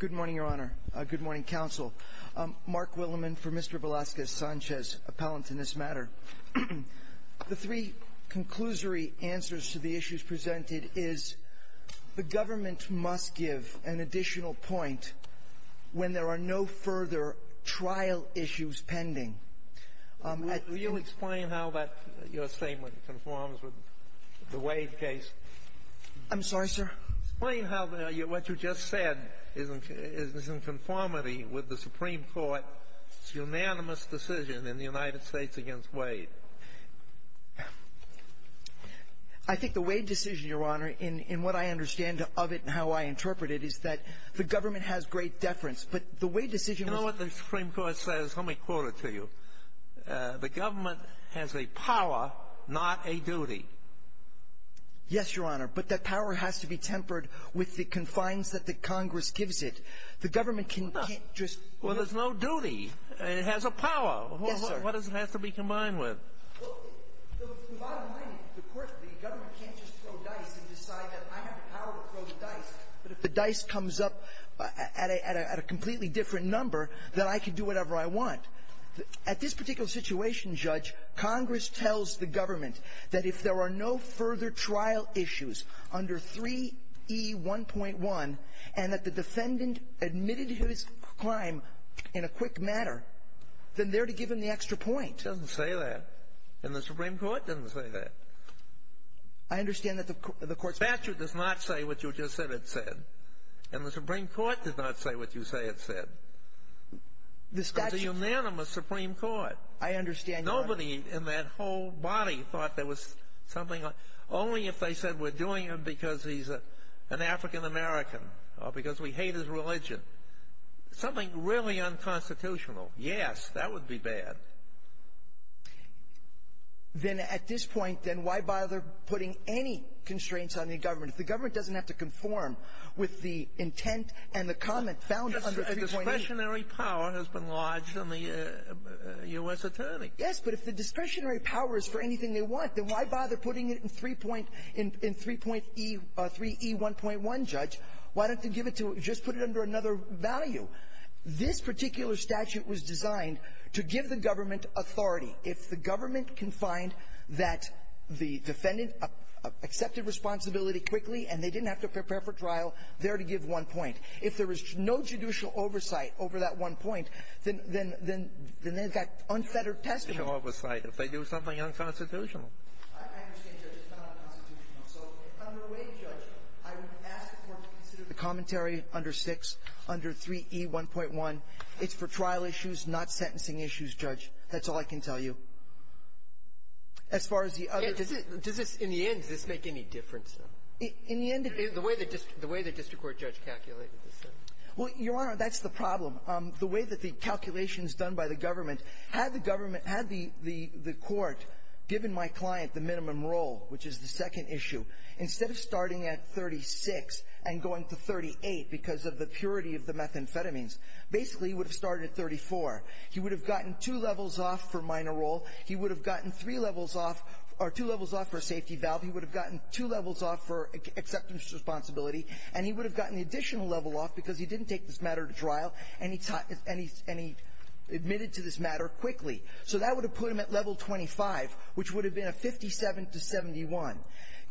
Good morning, Your Honor. Good morning, Counsel. Mark Willimon for Mr. Velazquez-Sanchez, appellant in this matter. The three conclusory answers to the issues presented is the government must give an additional point when there are no further trial issues pending. Do you explain how that, your statement, conforms with the Wade case? I'm sorry, sir? Explain how what you just said is in conformity with the Supreme Court's unanimous decision in the United States against Wade. I think the Wade decision, Your Honor, in what I understand of it and how I interpret it, is that the government has great deference. But the Wade decision was — The Supreme Court says, let me quote it to you, the government has a power, not a duty. Yes, Your Honor. But that power has to be tempered with the confines that the Congress gives it. The government can't just — Well, there's no duty. It has a power. Yes, sir. What does it have to be combined with? Well, the bottom line is, of course, the government can't just throw dice and decide that I have the power to throw the dice. But if the dice comes up at a completely different number, then I can do whatever I want. At this particular situation, Judge, Congress tells the government that if there are no further trial issues under 3E1.1 and that the defendant admitted his crime in a quick manner, then they're to give him the extra point. It doesn't say that. And the Supreme Court doesn't say that. I understand that the Court's — It said, and the Supreme Court did not say what you say it said. The statute — It's a unanimous Supreme Court. I understand, Your Honor. Nobody in that whole body thought there was something — only if they said we're doing it because he's an African American or because we hate his religion. Something really unconstitutional. Yes, that would be bad. Then at this point, then, why bother putting any constraints on the government? If the government doesn't have to conform with the intent and the comment found under 3.8 — Discretionary power has been lodged on the U.S. attorney. Yes. But if the discretionary power is for anything they want, then why bother putting it in 3. — in 3.E — 3E1.1, Judge? Why don't they give it to — just put it under another value? This particular statute was designed to give the government authority. If the government can find that the defendant accepted responsibility quickly and they didn't have to prepare for trial, they're to give one point. If there is no judicial oversight over that one point, then — then — then they've got unfettered testimony. If they do something unconstitutional. I understand, Judge. It's not unconstitutional. So under Wade, Judge, I would ask the Court to consider the commentary under 6, under 3E1.1. It's for trial issues, not sentencing issues, Judge. That's all I can tell you. As far as the other — Does it — does this — in the end, does this make any difference, though? In the end — The way the — the way the district court judge calculated this, though. Well, Your Honor, that's the problem. The way that the calculations done by the government, had the government — had the court given my client the minimum role, which is the second issue, instead of starting at 36 and going to 38 because of the purity of the methamphetamines, basically he would have started at 34. He would have gotten two levels off for minor role. He would have gotten three levels off — or two levels off for safety valve. He would have gotten two levels off for acceptance of responsibility. And he would have gotten the additional level off because he didn't take this matter to trial, and he — and he admitted to this matter quickly. So that would have put him at level 25, which would have been a 57 to 71.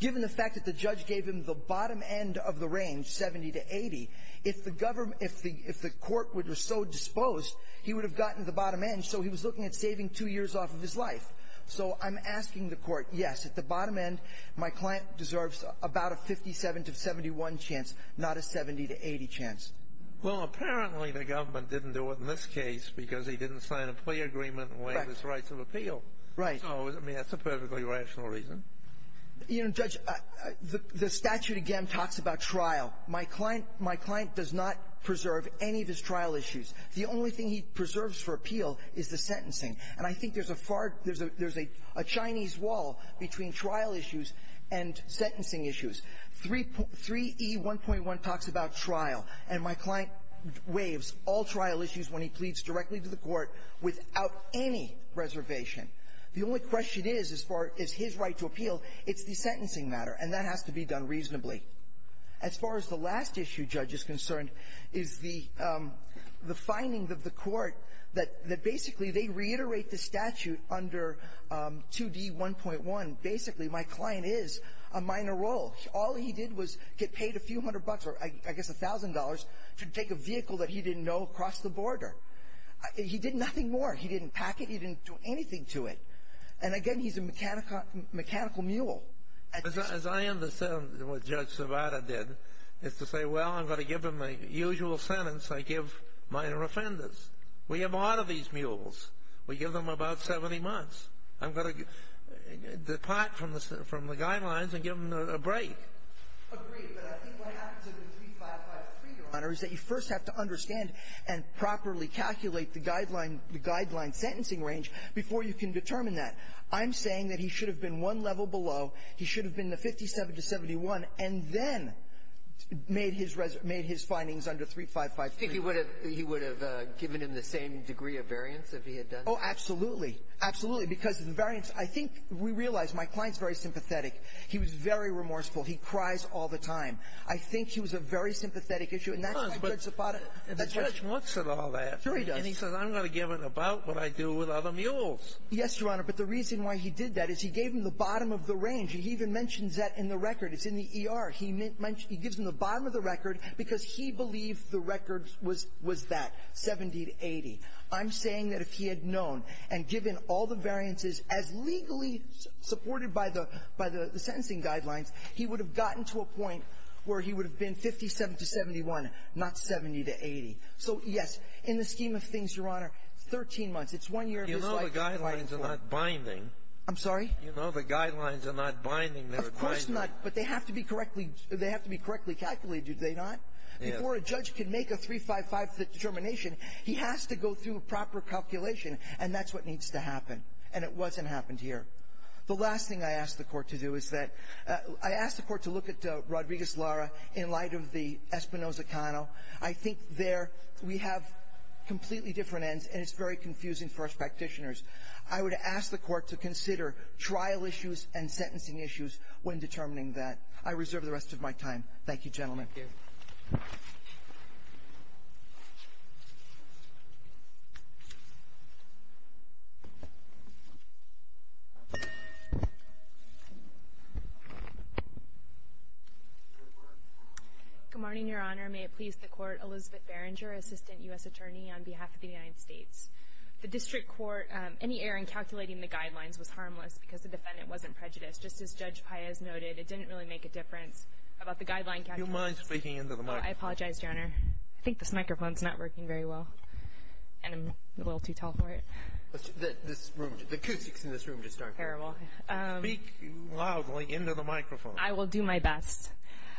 Given the fact that the judge gave him the bottom end of the range, 70 to 80, if the government — if the — if the court were so disposed, he would have gotten the bottom end, so he was looking at saving two years off of his life. So I'm asking the court, yes, at the bottom end, my client deserves about a 57 to 71 chance, not a 70 to 80 chance. Well, apparently the government didn't do it in this case because he didn't sign a plea agreement and waive his rights of appeal. Right. So, I mean, that's a perfectly rational reason. You know, Judge, the — the statute, again, talks about trial. My client — my client does not preserve any of his trial issues. The only thing he preserves for appeal is the sentencing. And I think there's a far — there's a — there's a Chinese wall between trial issues and sentencing issues. 3E1.1 talks about trial, and my client waives all trial issues when he pleads directly to the court without any reservation. The only question is, as far as his right to appeal, it's the sentencing matter, and that has to be done reasonably. As far as the last issue, Judge, is concerned, is the — the findings of the court that — that basically they reiterate the statute under 2D1.1. Basically, my client is a minor role. All he did was get paid a few hundred bucks or, I guess, $1,000 to take a vehicle that he didn't know across the border. He did nothing more. He didn't pack it. He didn't do anything to it. And, again, he's a mechanical — mechanical mule. As I understand what Judge Sobata did, it's to say, well, I'm going to give him the usual sentence I give minor offenders. We have a lot of these mules. We give them about 70 months. I'm going to depart from the — from the guidelines and give them a break. Agreed, but I think what happens in 3553, Your Honor, is that you first have to understand and properly calculate the guideline — the guideline sentencing range before you can determine that. I'm saying that he should have been one level below. He should have been the 57 to 71 and then made his — made his findings under 3553. Do you think he would have — he would have given him the same degree of variance if he had done that? Oh, absolutely. Absolutely. Because the variance — I think we realize my client's very sympathetic. He was very remorseful. He cries all the time. I think he was a very sympathetic issue. And that's why Judge Sobata — The judge wants it all that. Sure he does. And he says, I'm going to give it about what I do with other mules. Yes, Your Honor. But the reason why he did that is he gave him the bottom of the range. He even mentions that in the record. It's in the ER. He gives him the bottom of the record because he believed the record was that, 70 to 80. I'm saying that if he had known and given all the variances as legally supported by the — by the sentencing guidelines, he would have gotten to a point where he would have been 57 to 71, not 70 to 80. So, yes, in the scheme of things, Your Honor, 13 months. It's one year of his life. The guidelines are not binding. I'm sorry? You know, the guidelines are not binding. They're binding. Of course not. But they have to be correctly — they have to be correctly calculated, do they not? Yes. Before a judge can make a 3-5-5 determination, he has to go through a proper calculation. And that's what needs to happen. And it wasn't happened here. The last thing I asked the Court to do is that — I asked the Court to look at Rodriguez-Lara in light of the Espinoza-Cano. I think there we have completely different ends, and it's very confusing for us practitioners. I would ask the Court to consider trial issues and sentencing issues when determining that. I reserve the rest of my time. Thank you, gentlemen. Thank you. Good morning, Your Honor. May it please the Court. Elizabeth Berenger, Assistant U.S. Attorney on behalf of the United States. The district court — any error in calculating the guidelines was harmless because the defendant wasn't prejudiced. Just as Judge Paez noted, it didn't really make a difference about the guideline calculations. Do you mind speaking into the microphone? I apologize, Your Honor. I think this microphone's not working very well, and I'm a little too tall for it. This room — the acoustics in this room just aren't — Terrible. Speak loudly into the microphone. I will do my best.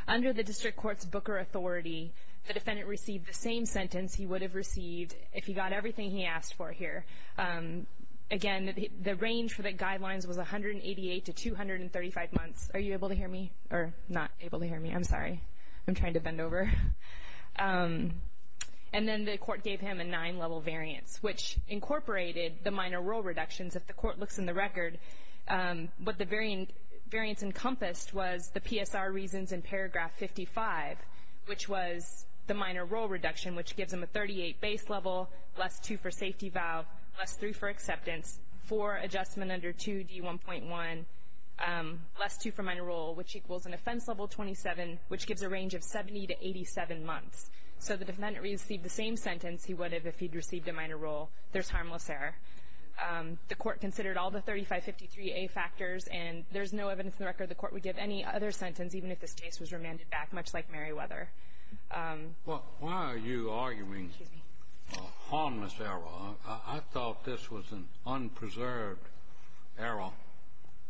Under the district court's Booker authority, the defendant received the same sentence he asked for here. Again, the range for the guidelines was 188 to 235 months. Are you able to hear me? Or not able to hear me. I'm sorry. I'm trying to bend over. And then the Court gave him a nine-level variance, which incorporated the minor role reductions. If the Court looks in the record, what the variance encompassed was the PSR reasons in paragraph 55, which was the minor role reduction, which gives him a 38 base level, less two for safety valve, less three for acceptance, four adjustment under 2D1.1, less two for minor role, which equals an offense level 27, which gives a range of 70 to 87 months. So the defendant received the same sentence he would have if he'd received a minor role. There's harmless error. The Court considered all the 3553A factors, and there's no evidence in the record the Court would give any other sentence, even if this case was remanded back, much like Meriwether. Well, why are you arguing harmless error? I thought this was an unpreserved error.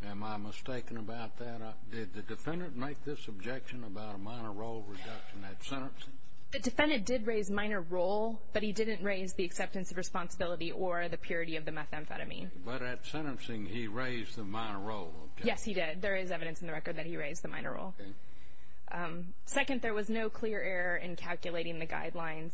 Am I mistaken about that? Did the defendant make this objection about a minor role reduction at sentencing? The defendant did raise minor role, but he didn't raise the acceptance of responsibility or the purity of the methamphetamine. But at sentencing, he raised the minor role, okay. Yes, he did. There is evidence in the record that he raised the minor role. Okay. Second, there was no clear error in calculating the guidelines.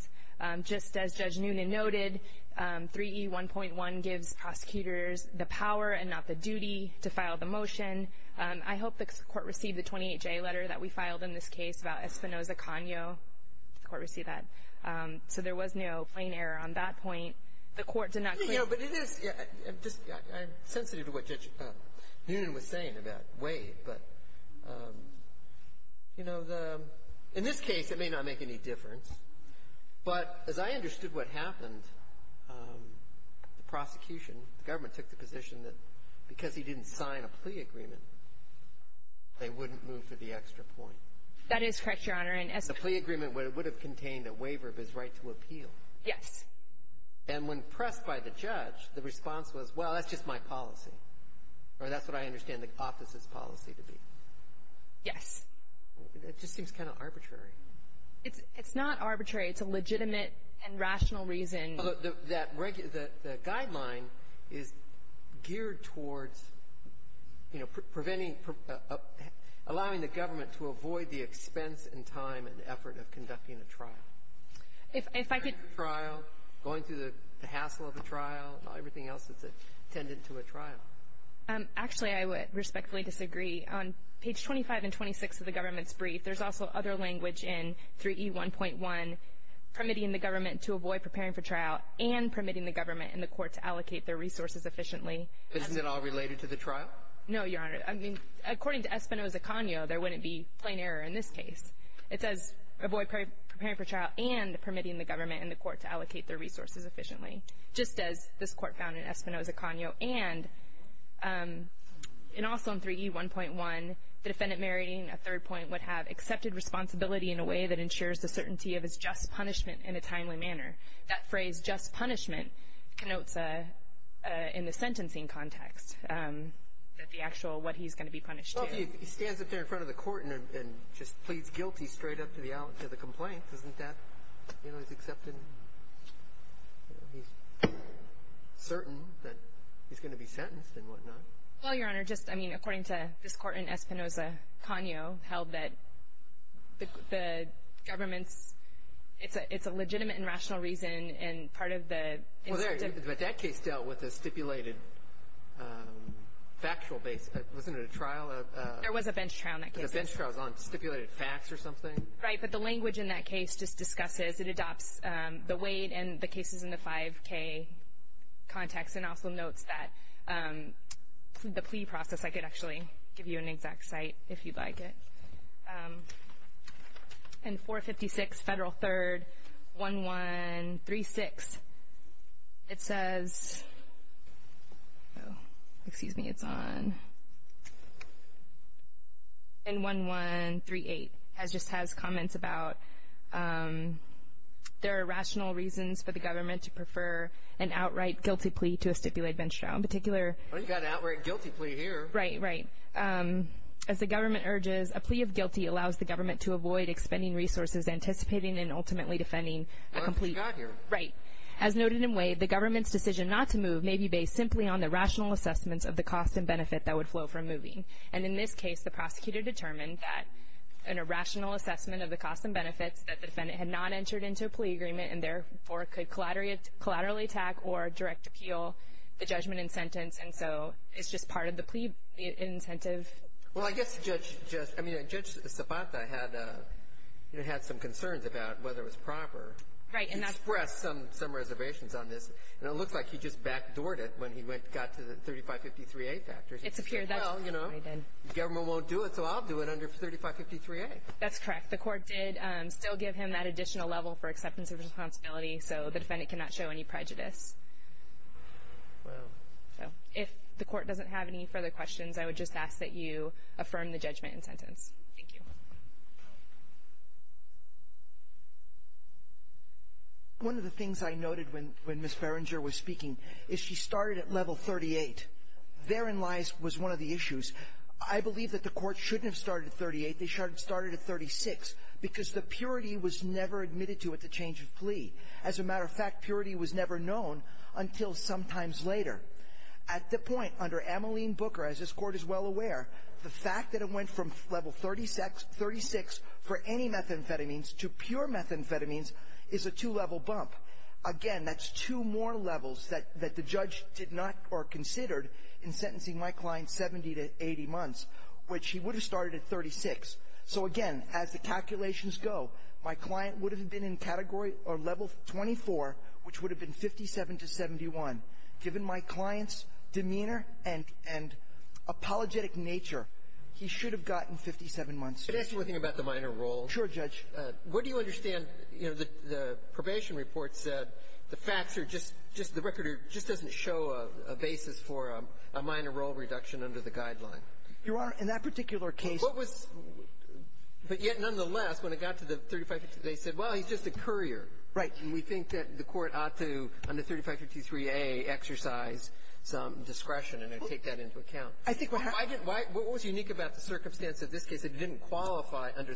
Just as Judge Noonan noted, 3E1.1 gives prosecutors the power and not the duty to file the motion. I hope the Court received the 28J letter that we filed in this case about Espinoza-Cano. Did the Court receive that? So there was no plain error on that point. The Court did not clear the motion. Let me go, but it is — I'm sensitive to what Judge Noonan was saying about Wade. But, you know, the — in this case, it may not make any difference. But as I understood what happened, the prosecution, the government, took the position that because he didn't sign a plea agreement, they wouldn't move to the extra point. That is correct, Your Honor. And as — The plea agreement would have contained a waiver of his right to appeal. Yes. And when pressed by the judge, the response was, well, that's just my policy, or that's what I understand the office's policy to be. Yes. It just seems kind of arbitrary. It's not arbitrary. It's a legitimate and rational reason. The guideline is geared towards, you know, preventing — allowing the government to avoid the expense and time and effort of conducting a trial. If I could — Going through the hassle of a trial, not everything else that's attendant to a trial. Actually, I would respectfully disagree. On page 25 and 26 of the government's brief, there's also other language in 3E1.1 permitting the government to avoid preparing for trial and permitting the government and the court to allocate their resources efficiently. Isn't it all related to the trial? No, Your Honor. I mean, according to Espinoza-Cano, there wouldn't be plain error in this case. It says avoid preparing for trial and permitting the government and the court to allocate their resources efficiently, just as this court found in Espinoza-Cano. And also in 3E1.1, the defendant meriting a third point would have accepted responsibility in a way that ensures the certainty of his just punishment in a timely manner. That phrase, just punishment, connotes in the sentencing context that the actual — what he's going to be punished to. He stands up there in front of the court and just pleads guilty straight up to the complaint. Isn't that — you know, he's accepted. He's certain that he's going to be sentenced and whatnot. Well, Your Honor, just, I mean, according to this court in Espinoza-Cano, held that the government's — it's a legitimate and rational reason, and part of the incentive — There was a bench trial in that case. The bench trial is on stipulated facts or something? Right, but the language in that case just discusses — it adopts the weight and the cases in the 5K context and also notes that the plea process. I could actually give you an exact site if you'd like it. In 456 Federal 3rd, 1136, it says — oh, excuse me, it's on. In 1138, it just has comments about there are rational reasons for the government to prefer an outright guilty plea to a stipulated bench trial. In particular — Well, you've got an outright guilty plea here. Right, right. As the government urges, a plea of guilty allows the government to avoid expending resources anticipating and ultimately defending a complete — Well, you've got here. Right. As noted in Wade, the government's decision not to move may be based simply on the rational assessments of the cost and benefit that would flow from moving. And in this case, the prosecutor determined that an irrational assessment of the cost and benefits that the defendant had not entered into a plea agreement and therefore could collaterally attack or direct appeal the judgment and sentence. And so it's just part of the plea incentive. Well, I guess Judge Sabata had some concerns about whether it was proper. Right. He expressed some reservations on this, and it looks like he just backdoored it when he got to the 3553A factors. It's appeared that's what he did. Well, you know, the government won't do it, so I'll do it under 3553A. That's correct. The court did still give him that additional level for acceptance of responsibility, so the defendant cannot show any prejudice. Wow. So if the court doesn't have any further questions, I would just ask that you affirm the judgment and sentence. Thank you. One of the things I noted when Ms. Berenger was speaking is she started at level 38. Therein lies — was one of the issues. I believe that the court shouldn't have started at 38. They should have started at 36 because the purity was never admitted to at the change of plea. As a matter of fact, purity was never known until sometimes later. At the point, under Ameline Booker, as this Court is well aware, the fact that it went from level 36 for any methamphetamines to pure methamphetamines is a two-level bump. Again, that's two more levels that the judge did not or considered in sentencing my client 70 to 80 months, which he would have started at 36. So, again, as the calculations go, my client would have been in category or level 24, which would have been 57 to 71. Given my client's demeanor and apologetic nature, he should have gotten 57 months. Can I ask you one thing about the minor role? Sure, Judge. What do you understand? You know, the probation report said the facts are just — just the record just doesn't show a basis for a minor role reduction under the guideline. Your Honor, in that particular case — But what was — but yet, nonetheless, when it got to the 3553A, they said, well, he's just a courier. Right. And we think that the Court ought to, under 3553A, exercise some discretion and take that into account. I think what happened — What was unique about the circumstance of this case that it didn't qualify under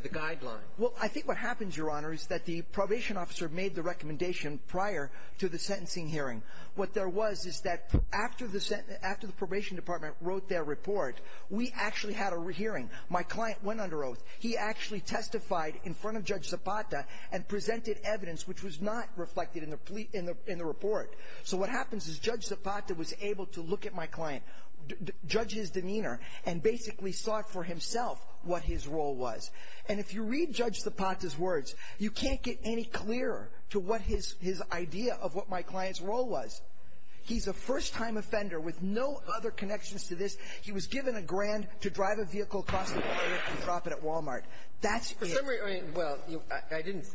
the guideline? Well, I think what happens, Your Honor, is that the probation officer made the recommendation prior to the sentencing hearing. What there was is that after the probation department wrote their report, we actually had a hearing. My client went under oath. He actually testified in front of Judge Zapata and presented evidence which was not reflected in the report. So what happens is Judge Zapata was able to look at my client, judge his demeanor, and basically saw for himself what his role was. And if you read Judge Zapata's words, you can't get any clearer to what his idea of what my client's role was. He's a first-time offender with no other connections to this. He was given a grand to drive a vehicle across the playground and drop it at Wal-Mart. That's it. Well, I didn't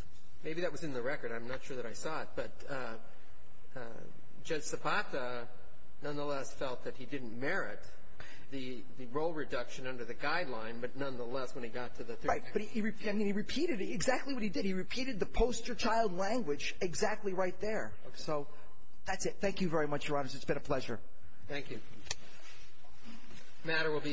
— maybe that was in the record. I'm not sure that I saw it. But Judge Zapata nonetheless felt that he didn't merit the role reduction under the guideline, but nonetheless, when he got to the — Right. But he — I mean, he repeated exactly what he did. He repeated the poster-child language exactly right there. So that's it. Thank you very much, Your Honors. It's been a pleasure. Thank you. The matter will be submitted.